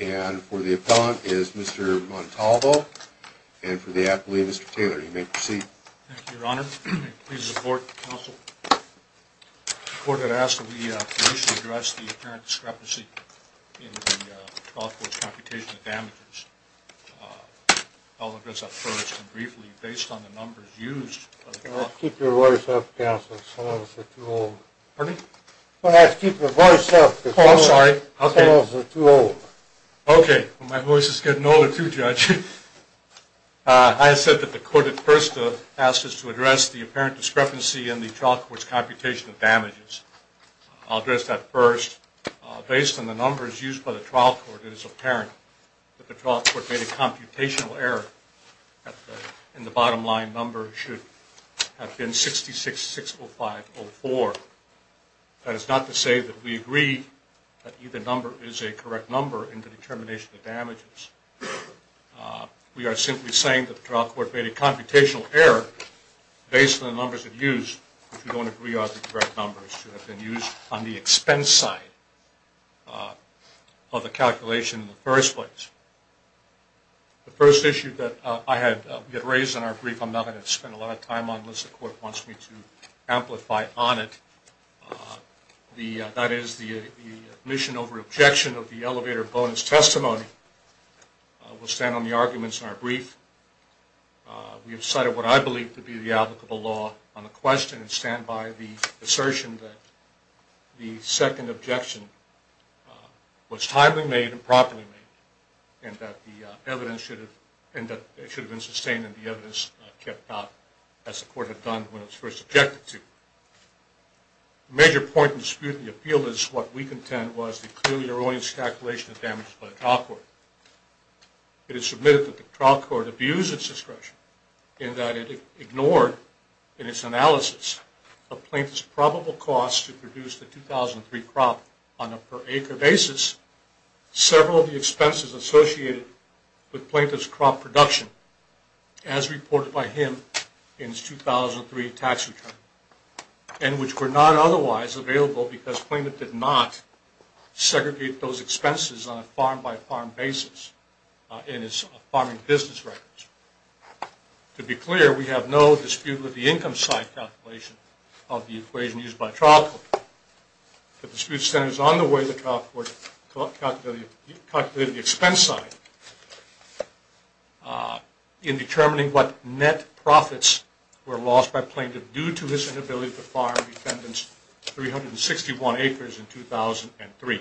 and for the appellant is Mr. Montalvo and for the appellee, Mr. Taylor. You may proceed. Thank you, Your Honor. I am pleased to support the counsel. The court has asked that we initially address the apparent discrepancy in the trial court's computation of damages. I'll address that first and briefly based on the nature of the case. Based on the numbers used by the trial court, it is apparent that the trial court made a computational error based on the numbers that were used, which we don't agree are the correct numbers to have been used on the expense side of the calculation in the first place. The first issue that I had raised in our brief, I'm not going to spend a lot of time on unless the court wants me to amplify on it, that is the admission over objection of the elevator bonus testimony. We'll stand on the arguments in our brief. We have cited what I believe to be the applicable law on the question and stand by the assertion that the second objection was timely made and properly made and that the evidence should have been sustained and the evidence kept out as the court had done when it was first objected to. A major point in dispute in the appeal is what we contend was the clearly erroneous calculation of damages by the trial court. It is submitted that the trial court abused its discretion in that in its analysis of Plaintiff's probable cost to produce the 2003 crop on a per acre basis, several of the expenses associated with Plaintiff's crop production as reported by him in his 2003 tax return and which were not otherwise available because Plaintiff did not segregate those expenses on a farm-by-farm basis in his farming business records. To be clear, we have no dispute with the income side calculation of the equation used by trial court. The dispute stands on the way the trial court calculated the expense side in determining what net profits were lost by Plaintiff due to his inability to farm defendant's 361 acres in 2003.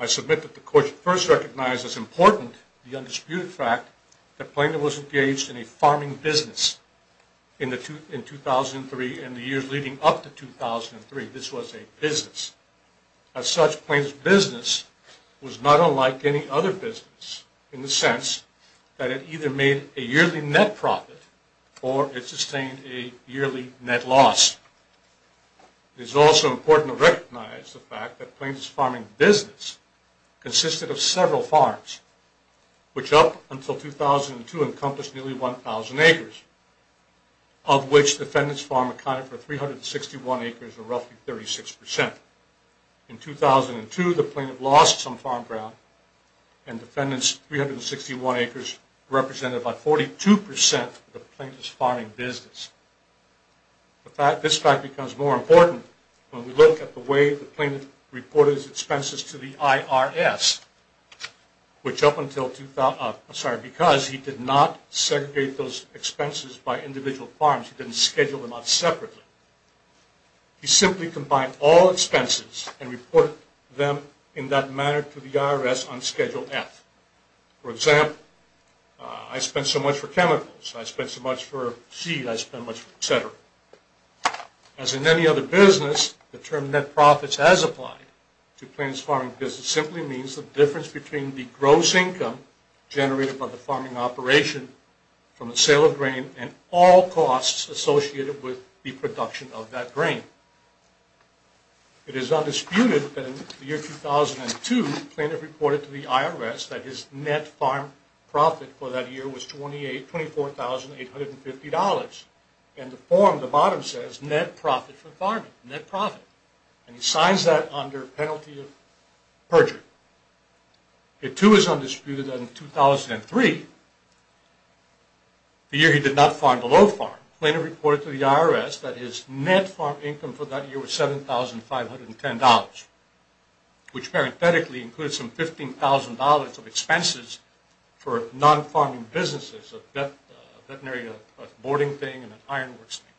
I submit that the court first recognized as important the undisputed fact that Plaintiff was engaged in a farming business in 2003 and the years leading up to 2003 this was a business. As such, Plaintiff's business was not unlike any other business in the sense that it either made a yearly net profit or it sustained a yearly net loss. It is also important to recognize the fact that Plaintiff's farming business consisted of several farms, which up until 2002 encompassed nearly 1,000 acres, of which defendant's farm accounted for 361 acres or roughly 36%. In 2002, the plaintiff lost some farm ground and defendant's 361 acres represented about 42% of the plaintiff's farming business. This fact becomes more important when we look at the way the plaintiff reported his expenses to the IRS, because he did not segregate those expenses by individual farms, he didn't schedule them out separately. He simply combined all expenses and reported them in that manner to the IRS on Schedule F. For example, I spent so much for chemicals, I spent so much for seed, etc. As in any other business, the term net profits has applied to plaintiff's farming business simply means the difference between the gross income generated by the farming operation from the sale of grain and all costs associated with the production of that grain. It is undisputed that in the IRS that his net farm profit for that year was $24,850 and the form at the bottom says net profit for farming, net profit, and he signs that under penalty of perjury. It too is undisputed that in 2003, the year he did not farm below farm, the plaintiff reported to the IRS that his net farm income for that year was $7,510, which parenthetically includes some $15,000 of expenses for non-farming businesses, a veterinary boarding thing and an ironworks thing,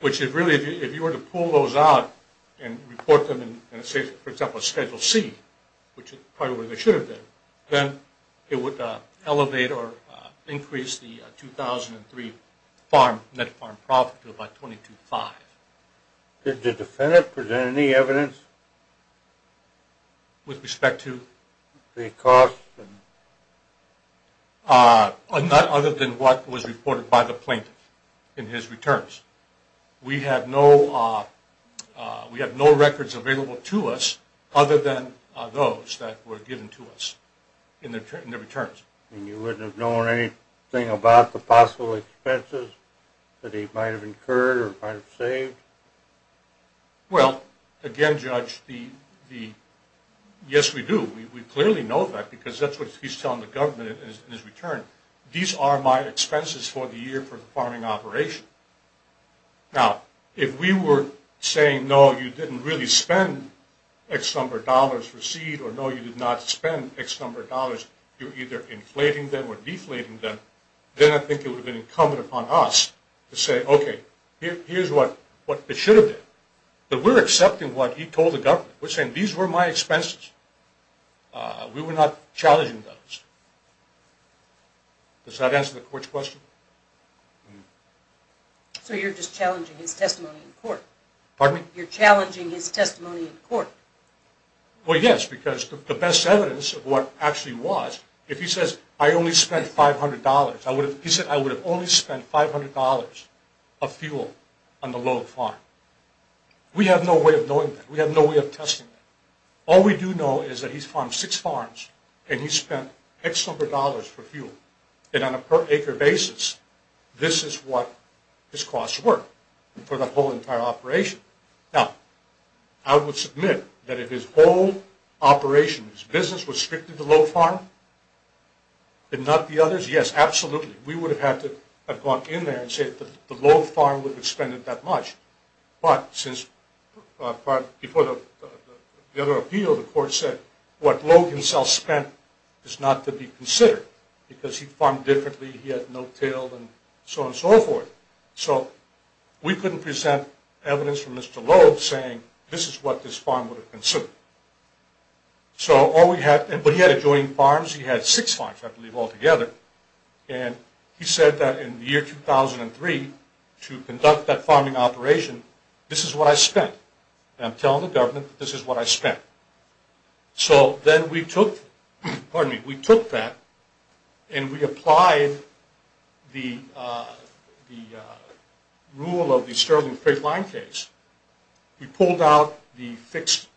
which is really, if you were to pull those out and report them in say, for example, Schedule C, which is probably where they should have been, then it would elevate or increase the 2003 net farm profit to about $22,500. Did the defendant present any evidence? With respect to? The cost? Not other than what was reported by the plaintiff in his returns. We have no records available to us other than those that were given to us in their returns. And you wouldn't have known anything about the possible expenses that he might have incurred or might have saved? Well, again, Judge, yes, we do. We clearly know that because that's what he's telling the government in his return. These are my expenses for the year for the farming operation. Now, if we were saying, no, you didn't really spend X number of dollars for seed or no, you did not spend X number of dollars, you're either inflating them or deflating them, then I think it would have been incumbent upon us to say, okay, here's what it should have been. But we're accepting what he told the government. We're saying these were my expenses. We were not challenging those. Does that answer the court's question? So you're just challenging his testimony in court? Pardon me? You're challenging his testimony in court? Well, yes, because the best evidence of what actually was, if he says, I only spent $500, he said, I would have only spent $500 of fuel on the Lowe Farm. We have no way of knowing that. We have no way of testing that. All we do know is that he's farmed six farms and he's spent X number of dollars for fuel. And on a per acre basis, this is what his costs were for the whole entire operation. Now, I would submit that if his whole operation, his business, was strictly the Lowe Farm and not the others, yes, absolutely, we would have had to have gone in there and said that the Lowe Farm would have expended that much. But since, before the other appeal, the court said what Lowe himself spent is not to be considered because he farmed differently, he had no tail, and so on and so forth. So we couldn't present evidence from Mr. Lowe saying this is what this farm would have considered. But he had adjoining farms. He had six farms, I believe, altogether. And he said that in the year 2003, to conduct that farming operation, this is what I spent. And I'm telling the government that this is what I spent. So then we took that and we applied the rule of the Sterling Creek line case. We pulled out the fixed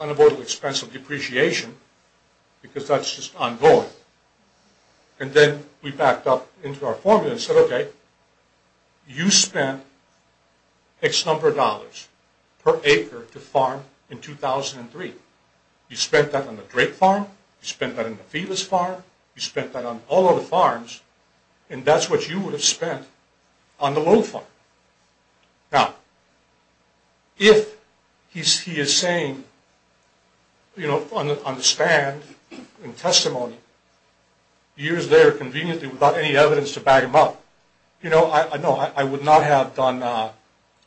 unavoidable expense of depreciation because that's just ongoing. And then we backed up into our formula and said, okay, you spent X number of dollars per acre to farm in 2003. You spent that on the Drake Farm. You spent that on the Felix Farm. You spent that on all other farms. And that's what you would have spent on the Lowe Farm. Now, if he is saying, you know, on the stand, in testimony, years there conveniently without any evidence to back him up, you know, no, I would not have done a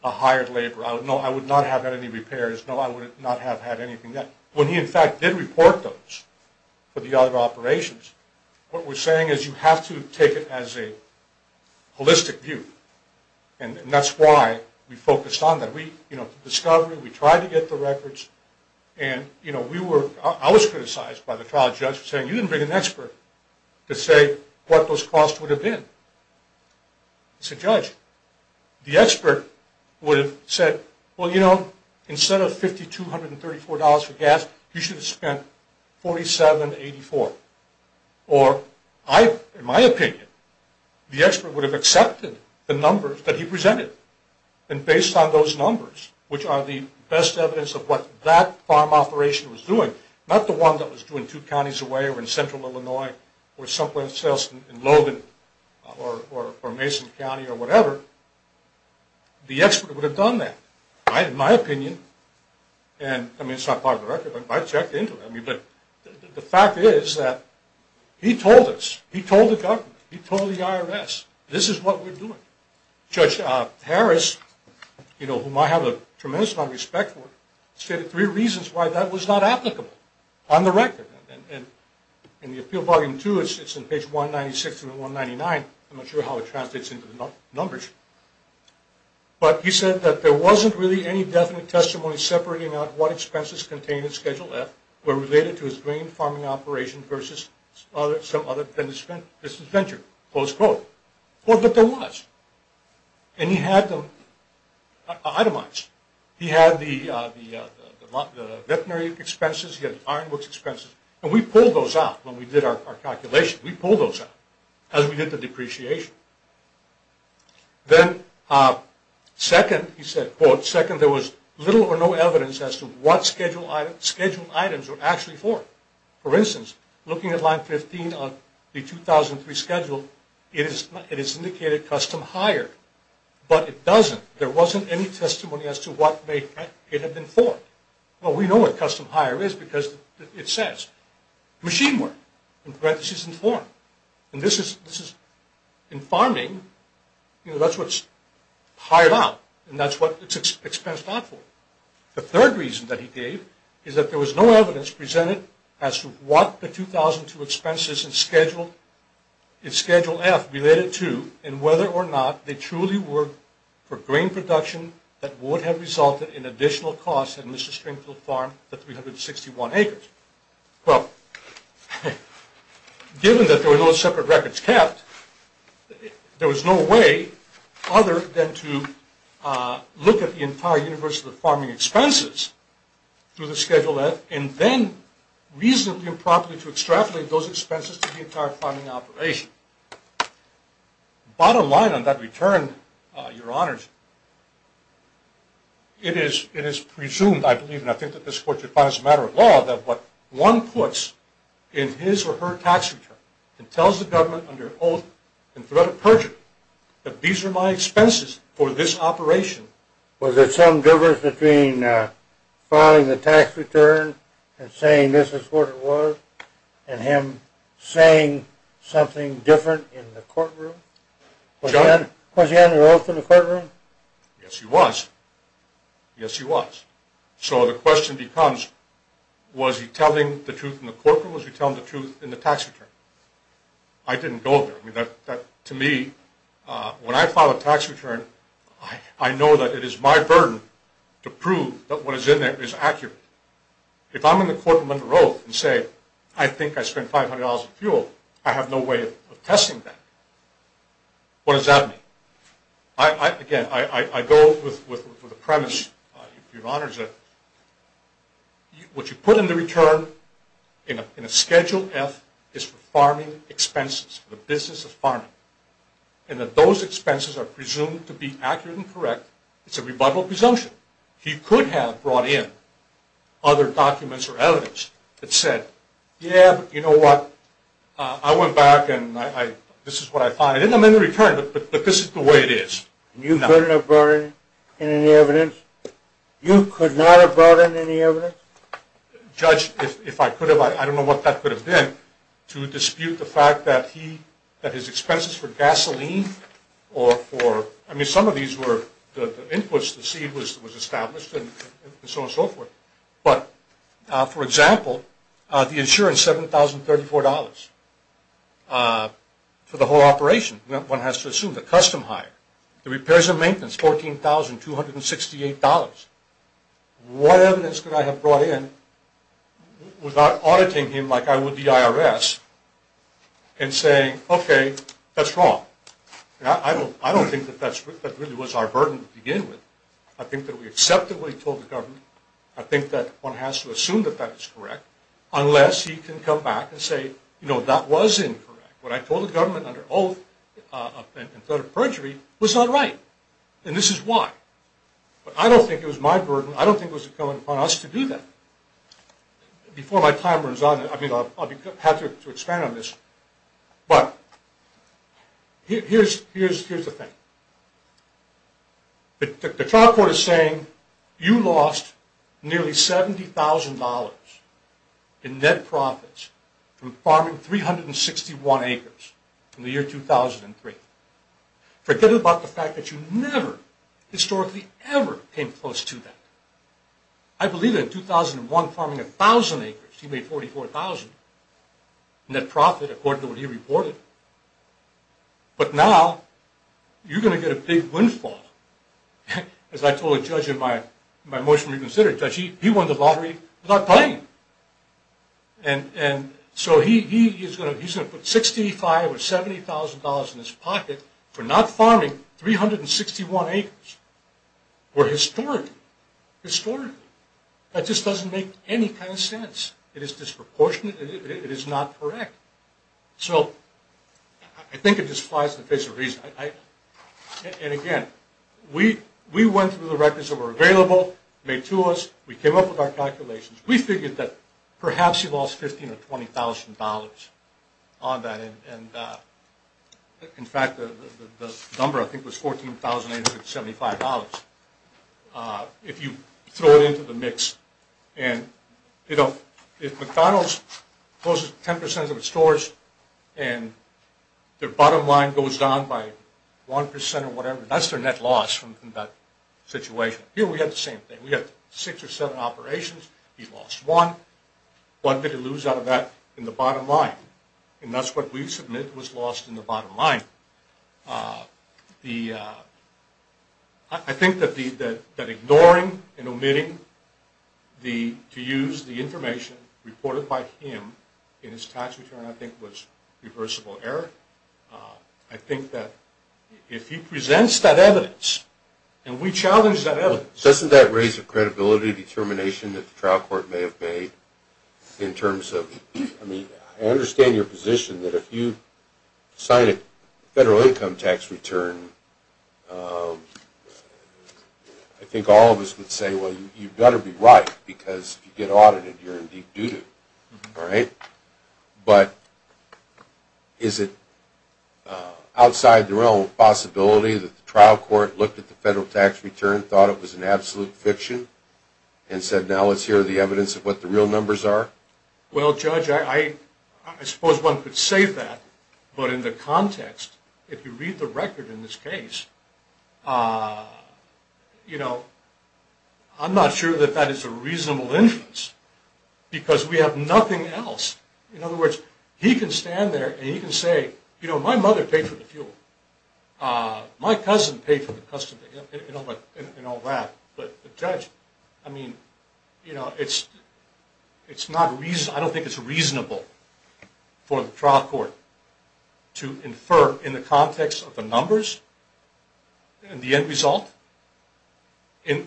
hired labor. No, I would not have had any repairs. No, I would not have had anything done. When he, in fact, did report those for the other operations, what we're saying is you have to take it as a holistic view. And that's why we focused on that. We, you know, the discovery, we tried to get the records. And, you know, we were, I was criticized by the trial judge for saying, you didn't bring an expert to say what those costs would have been. He said, Judge, the expert would have said, well, you know, instead of $5,234 for gas, you should have spent $47.84. Or I, in my opinion, the expert would have accepted the numbers that he presented. And based on those numbers, which are the best evidence of what that farm operation was doing, not the one that was doing two counties away or in central Illinois or someplace else in Logan or Mason County or whatever, the expert would have done that. I, in my opinion, and, I mean, it's not part of the record, but I checked into it. I mean, but the fact is that he told us, he told the government, he told the IRS, this is what we're doing. Judge Harris, you know, whom I have a tremendous amount of respect for, stated three reasons why that was not applicable on the record. And in the appeal bargain, too, it's in page 196 and 199. I'm not sure how it translates into the numbers. But he said that there wasn't really any definite testimony separating out what expenses contained in Schedule F were related to his grain farming operation versus some other business venture, close quote. But there was. And he had them itemized. He had the veterinary expenses, he had the ironworks expenses, and we pulled those out when we did our calculation. We pulled those out as we did the depreciation. Then, second, he said, quote, second, there was little or no evidence as to what scheduled items were actually for. For instance, looking at line 15 on the 2003 schedule, it is indicated custom hire. But it doesn't. There wasn't any testimony as to what it had been for. Well, we know what custom hire is because it says. Machine work. And this is, in farming, that's what's hired out. And that's what it's expensed out for. The third reason that he gave is that there was no evidence presented as to what the 2002 expenses in Schedule F related to and whether or not they truly were for grain production that would have resulted in additional costs in Mr. Springfield's farm of 361 acres. Well, given that there were no separate records kept, there was no way other than to look at the entire universe of the farming expenses through the Schedule F and then reasonably improperly to extrapolate those expenses to the entire farming operation. Bottom line on that return, Your Honors, it is presumed, I believe, and I think that this Court should find as a matter of law, that what one puts in his or her tax return and tells the government under oath and threat of perjury that these are my expenses for this operation. Was there some difference between filing the tax return and saying this is what it was and him saying something different in the courtroom? Was he under oath in the courtroom? Yes, he was. Yes, he was. So the question becomes, was he telling the truth in the courtroom or was he telling the truth in the tax return? I didn't go there. To me, when I file a tax return, I know that it is my burden to prove that what is in there is accurate. If I'm in the courtroom under oath and say I think I spent $500 in fuel, I have no way of testing that. What does that mean? Again, I go with the premise, Your Honors, that what you put in the return in a Schedule F is for farming expenses, for the business of farming, and that those expenses are presumed to be accurate and correct. It's a rebuttal presumption. He could have brought in other documents or evidence that said, yeah, but you know what, I went back and this is what I find. I didn't amend the return, but this is the way it is. You couldn't have brought in any evidence? You could not have brought in any evidence? Judge, if I could have, I don't know what that could have been, to dispute the fact that his expenses for gasoline or for, I mean, some of these were the inputs, the seed was established and so on and so forth. But, for example, the insurance, $7,034 for the whole operation, one has to assume the custom hire. The repairs and maintenance, $14,268. What evidence could I have brought in without auditing him like I would the IRS and saying, okay, that's wrong. I don't think that really was our burden to begin with. I think that we accepted what he told the government. I think that one has to assume that that is correct, unless he can come back and say, you know, that was incorrect. What I told the government under oath in threat of perjury was not right, and this is why. But I don't think it was my burden. I don't think it was incumbent upon us to do that. Before my time runs out, I mean, I'll have to expand on this, but here's the thing. The trial court is saying you lost nearly $70,000 in net profits from farming 361 acres in the year 2003. Forget about the fact that you never, historically, ever came close to that. I believe that in 2001, farming 1,000 acres, he made $44,000 net profit according to what he reported. But now, you're going to get a big windfall. As I told a judge in my motion to reconsider, he won the lottery without playing. And so he's going to put $65,000 or $70,000 in his pocket for not farming 361 acres. Where historically, historically, that just doesn't make any kind of sense. It is disproportionate. It is not correct. So I think it just flies in the face of reason. And again, we went through the records that were available, made to us. We came up with our calculations. We figured that perhaps you lost $15,000 or $20,000 on that. In fact, the number, I think, was $14,875 if you throw it into the mix. If McDonald's closes 10% of its stores and their bottom line goes down by 1% or whatever, that's their net loss from that situation. Here, we have the same thing. We have six or seven operations. He lost one. One could lose out of that in the bottom line. And that's what we submit was lost in the bottom line. I think that ignoring and omitting to use the information reported by him in his tax return, I think, was reversible error. I think that if he presents that evidence, and we challenge that evidence. Doesn't that raise a credibility determination that the trial court may have made in terms of, I mean, I understand your position that if you sign it, federal income tax return, I think all of us would say, well, you've got to be right because if you get audited, you're in deep doo-doo. All right? But is it outside the realm of possibility that the trial court looked at the federal tax return, thought it was an absolute fiction, and said, now let's hear the evidence of what the real numbers are? Well, Judge, I suppose one could say that. But in the context, if you read the record in this case, you know, I'm not sure that that is a reasonable inference because we have nothing else. In other words, he can stand there and he can say, you know, my mother paid for the fuel. My cousin paid for the custody and all that. But, Judge, I mean, you know, it's not reasonable. I don't think it's reasonable for the trial court to infer in the context of the numbers and the end result in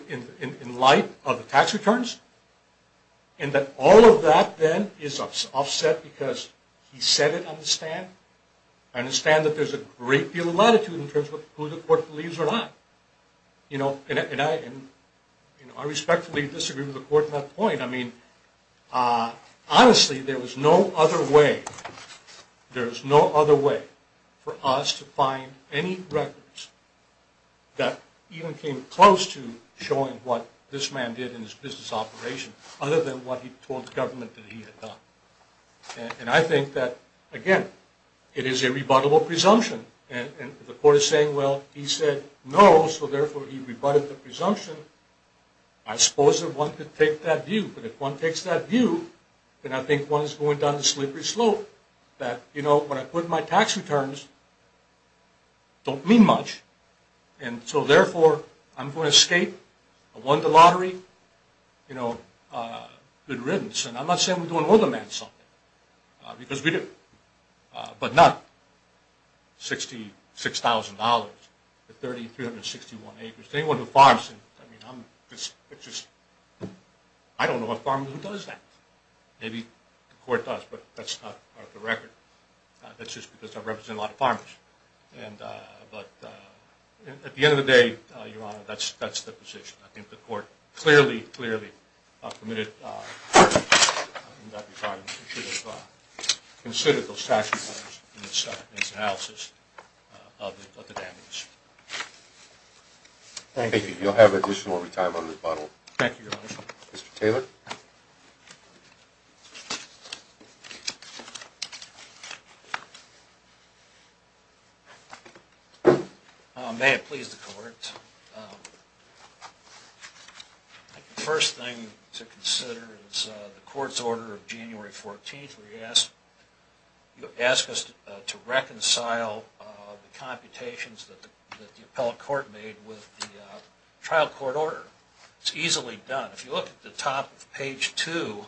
light of the tax returns, and that all of that then is offset because he said it on the stand. I understand that there's a great deal of latitude in terms of who the court believes or not. You know, and I respectfully disagree with the court on that point. I mean, honestly, there was no other way, there's no other way for us to find any records that even came close to showing what this man did in his business operation, other than what he told the government that he had done. And I think that, again, it is a rebuttable presumption. And the court is saying, well, he said no, so therefore he rebutted the presumption. I suppose that one could take that view. But if one takes that view, then I think one is going down the slippery slope that, you know, when I put my tax returns, don't mean much. And so, therefore, I'm going to escape. I won the lottery, you know, good riddance. And I'm not saying we don't owe the man something. Because we do. But not $66,000 for 30, 361 acres. Anyone who farms, I mean, I don't know a farmer who does that. Maybe the court does, but that's not part of the record. That's just because I represent a lot of farmers. But at the end of the day, Your Honor, that's the position. I think the court clearly, clearly permitted that retirement. Consider those tax returns in its analysis of the damages. Thank you. You'll have additional retirement rebuttal. Thank you, Your Honor. May it please the court. I think the first thing to consider is the court's order of January 14th, where you ask us to reconcile the computations that the appellate court made with the trial court order. It's easily done. If you look at the top of page 2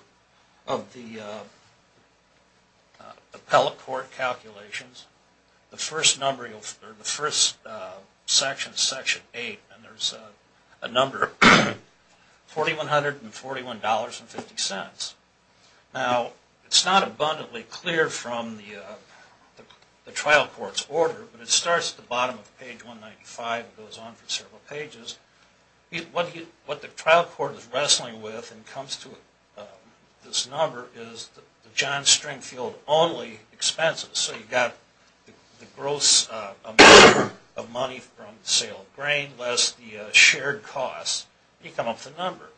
of the appellate court calculations, the first section, section 8, and there's a number, $4,141.50. Now, it's not abundantly clear from the trial court's order, but it starts at the bottom of page 195 and goes on for several pages. What the trial court is wrestling with when it comes to this number is the John Stringfield only expenses. So you've got the gross amount of money from the sale of grain less the shared costs. You come up with a number.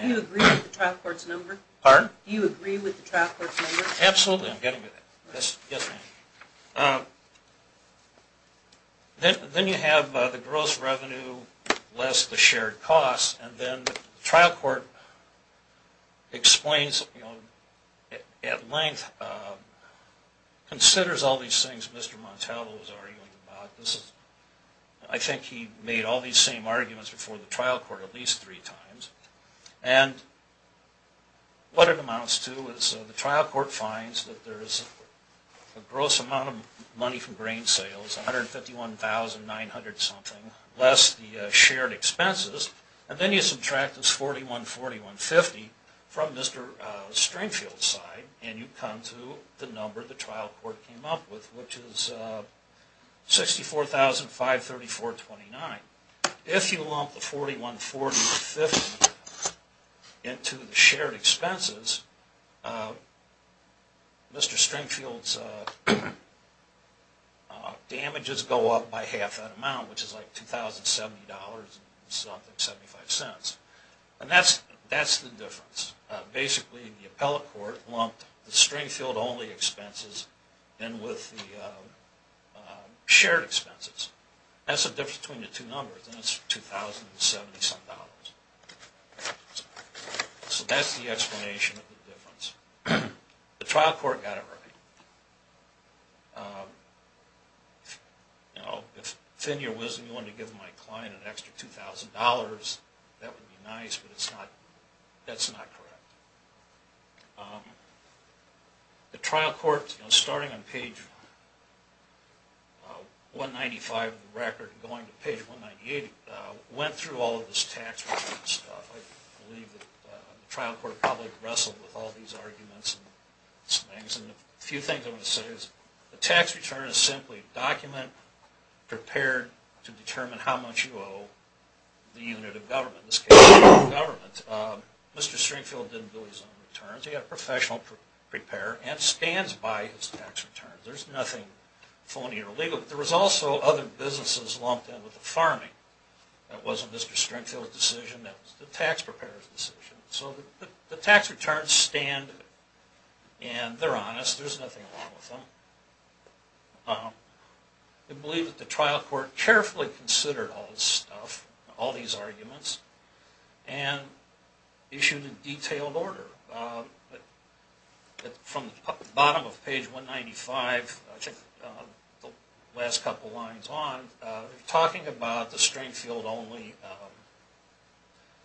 Do you agree with the trial court's number? Pardon? Do you agree with the trial court's number? Absolutely. I'm getting to that. Yes, ma'am. Then you have the gross revenue less the shared costs, and then the trial court explains at length, considers all these things Mr. Montalvo was arguing about. I think he made all these same arguments before the trial court at least three times. And what it amounts to is the trial court finds that there is a gross amount of money from grain sales, $151,900 something, less the shared expenses. And then you subtract this $41,450 from Mr. Stringfield's side, and you come to the number the trial court came up with, which is $64,534.29. If you lump the $41,450 into the shared expenses, Mr. Stringfield's damages go up by half that amount, which is like $2,070.75. And that's the difference. Basically, the appellate court lumped the Stringfield-only expenses in with the shared expenses. That's the difference between the two numbers, and it's $2,070. So that's the explanation of the difference. The trial court got it right. If Thin Your Wisdom wanted to give my client an extra $2,000, that would be nice, but that's not correct. The trial court, starting on page 195 of the record and going to page 198, went through all of this tax reform stuff. I believe that the trial court probably wrestled with all these arguments and a few things I want to say. The tax return is simply a document prepared to determine how much you owe the unit of government. In this case, the government. Mr. Stringfield didn't do his own returns. He had a professional preparer and stands by his tax return. There's nothing phony or illegal. There was also other businesses lumped in with the farming. That was the tax preparer's decision. So the tax returns stand, and they're honest. There's nothing wrong with them. I believe that the trial court carefully considered all this stuff, all these arguments, and issued a detailed order. From the bottom of page 195, the last couple lines on, they're talking about the Stringfield-only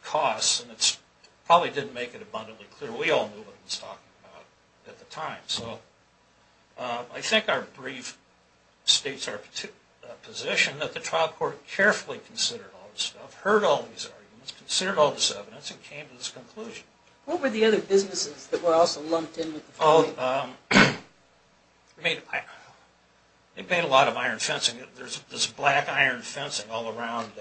costs, and it probably didn't make it abundantly clear. We all knew what it was talking about at the time. So I think our brief states our position that the trial court carefully considered all this stuff, heard all these arguments, considered all this evidence, and came to this conclusion. What were the other businesses that were also lumped in with the farming? They paid a lot of iron fencing. There's black iron fencing all around.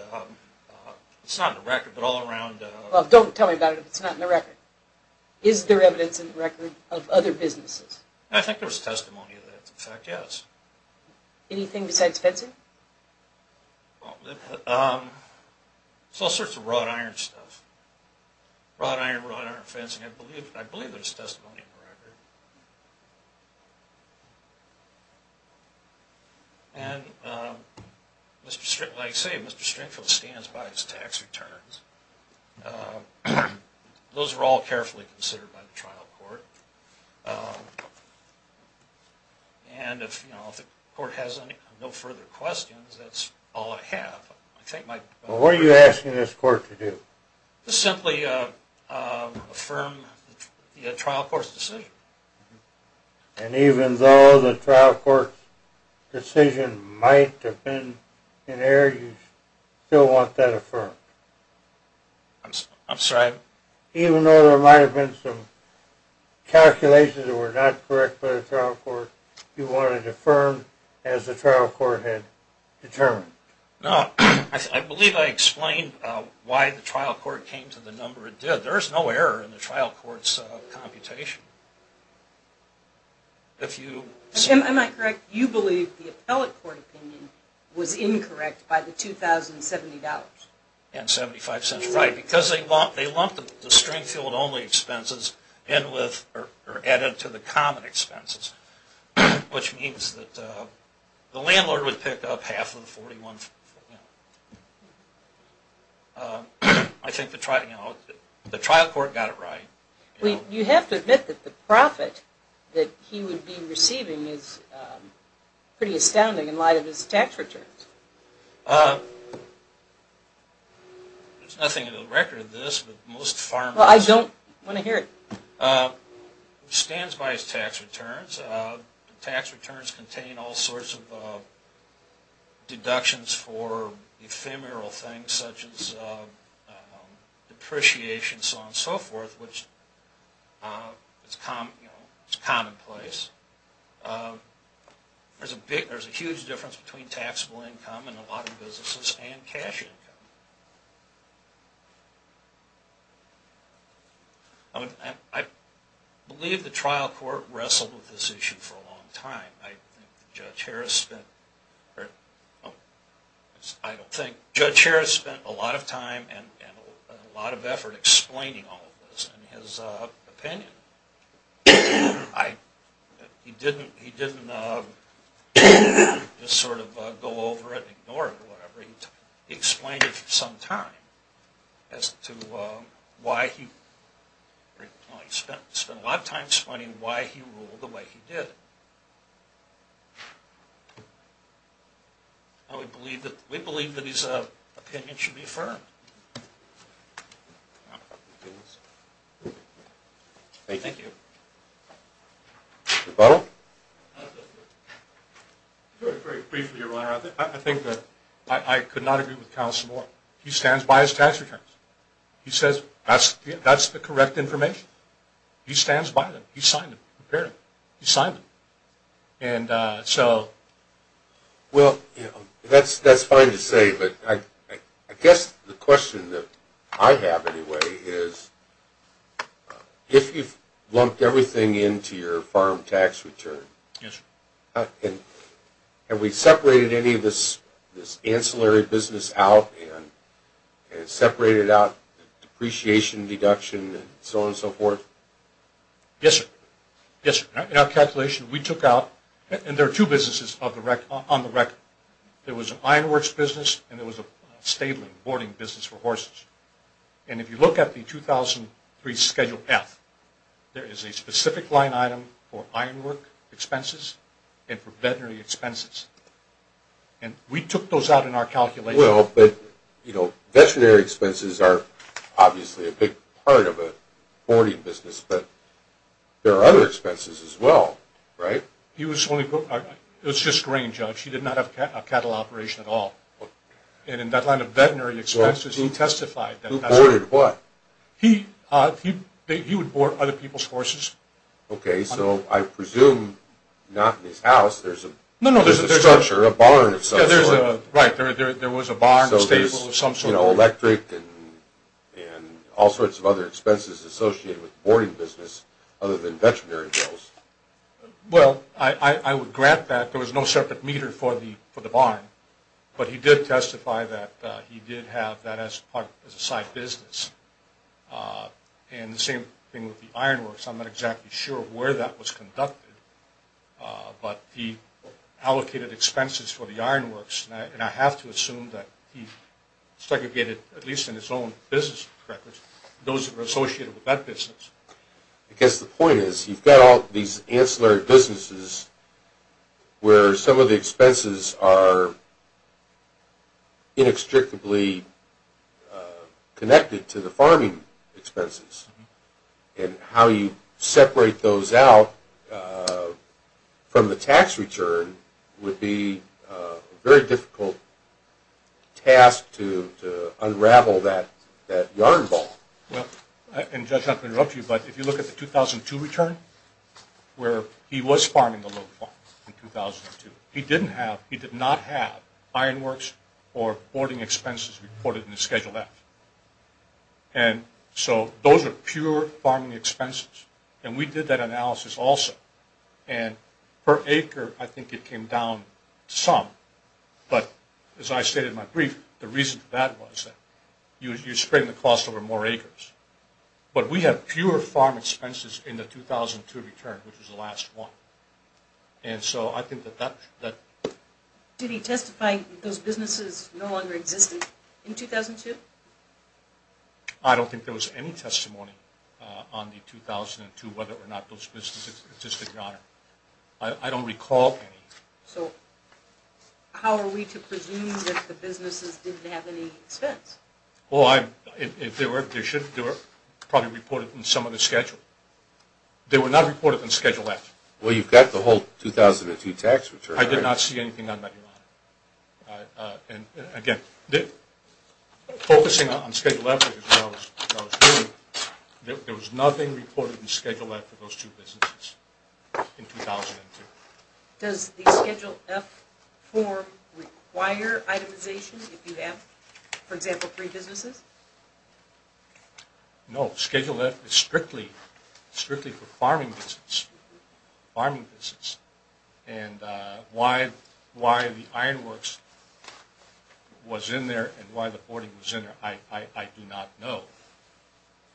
It's not in the record, but all around. Well, don't tell me about it if it's not in the record. Is there evidence in the record of other businesses? I think there was testimony of that. In fact, yes. Anything besides fencing? It's all sorts of wrought iron stuff. Wrought iron, wrought iron fencing. I believe there's testimony in the record. And like I say, Mr. Stringfield stands by his tax returns. Those were all carefully considered by the trial court. And if the court has no further questions, that's all I have. Well, what are you asking this court to do? Just simply affirm the trial court's decision. And even though the trial court's decision might have been inerrant, you still want that affirmed? I'm sorry? Even though there might have been some calculations that were not correct by the trial court, you want it affirmed as the trial court had determined? No. I believe I explained why the trial court came to the number it did. There's no error in the trial court's computation. Am I correct? You believe the appellate court opinion was incorrect by the $2,070? And 75 cents. Right. Because they lumped the Stringfield-only expenses in with or added to the common expenses, which means that the landlord would pick up half of the $41,000. I think the trial court got it right. You have to admit that the profit that he would be receiving is pretty astounding in light of his tax returns. There's nothing in the record of this, but most farmers... Well, I don't want to hear it. It stands by his tax returns. Tax returns contain all sorts of deductions for ephemeral things such as depreciation, so on and so forth, which is commonplace. There's a huge difference between taxable income in a lot of businesses and cash income. I believe the trial court wrestled with this issue for a long time. I don't think. Judge Harris spent a lot of time and a lot of effort explaining all of this in his opinion. He didn't just sort of go over it and ignore it or whatever. He explained it for some time as to why he... He spent a lot of time explaining why he ruled the way he did. We believe that his opinion should be affirmed. Thank you. Rebuttal? Very briefly, Your Honor. I think that I could not agree with counsel more. He stands by his tax returns. He says that's the correct information. He stands by them. He signed them. He prepared them. He signed them. And so... Well, that's fine to say, but I guess the question that I have anyway is, if you've lumped everything into your farm tax return, have we separated any of this ancillary business out and separated out depreciation, deduction, and so on and so forth? Yes, sir. Yes, sir. In our calculation, we took out... And there are two businesses on the record. There was an ironworks business and there was a stabling, boarding business for horses. And if you look at the 2003 Schedule F, there is a specific line item for ironwork expenses and for veterinary expenses. And we took those out in our calculation. Well, but, you know, veterinary expenses are obviously a big part of a boarding business, but there are other expenses as well, right? He was only... It was just grain, Judge. He did not have a cattle operation at all. And in that line of veterinary expenses, he testified that... Who boarded what? He would board other people's horses. Okay, so I presume not in his house. There's a structure, a barn of some sort. Right. There was a barn, a stable of some sort. So there's electric and all sorts of other expenses associated with boarding business other than veterinary bills. Well, I would grant that. There was no separate meter for the barn. But he did testify that he did have that as a side business. And the same thing with the ironworks. I'm not exactly sure where that was conducted, but he allocated expenses for the ironworks. And I have to assume that he segregated, at least in his own business records, those that were associated with that business. I guess the point is you've got all these ancillary businesses where some of the expenses are inextricably connected to the farming expenses. And how you separate those out from the tax return would be a very difficult task to unravel that yarn ball. Well, and Judge, not to interrupt you, but if you look at the 2002 return where he was farming a little farm in 2002, he did not have ironworks or boarding expenses reported in the Schedule F. And so those are pure farming expenses. And we did that analysis also. And per acre, I think it came down some. But as I stated in my brief, the reason for that was you're spreading the cost over more acres. But we have fewer farm expenses in the 2002 return, which was the last one. And so I think that that... Did he testify that those businesses no longer existed in 2002? I don't think there was any testimony on the 2002, whether or not those businesses existed or not. I don't recall any. So how are we to presume that the businesses didn't have any expense? Well, if they were, they should. They were probably reported in some of the Schedule. They were not reported in Schedule F. Well, you've got the whole 2002 tax return. I did not see anything on that, Your Honor. And, again, focusing on Schedule F, there was nothing reported in Schedule F for those two businesses in 2002. Does the Schedule F form require itemization? If you have, for example, three businesses? No. Schedule F is strictly for farming businesses. And why the ironworks was in there and why the hoarding was in there, I do not know.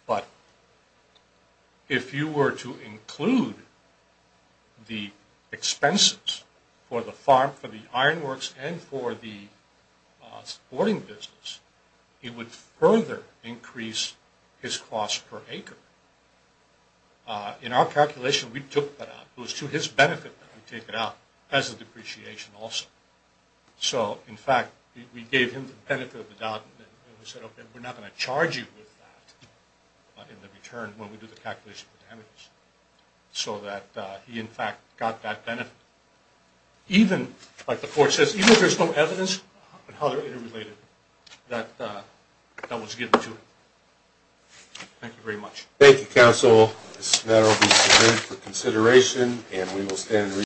But if you were to include the expenses for the farm, for the ironworks, and for the sporting business, it would further increase his cost per acre. In our calculation, we took that out. It was to his benefit that we took it out as a depreciation also. So, in fact, we gave him the benefit of the doubt. And we said, okay, we're not going to charge you with that in the return when we do the calculation for damages. So that he, in fact, got that benefit. Even, like the court says, even if there's no evidence, and how they're interrelated, that was given to him. Thank you very much. Thank you, counsel. This matter will be submitted for consideration, and we will stand in review.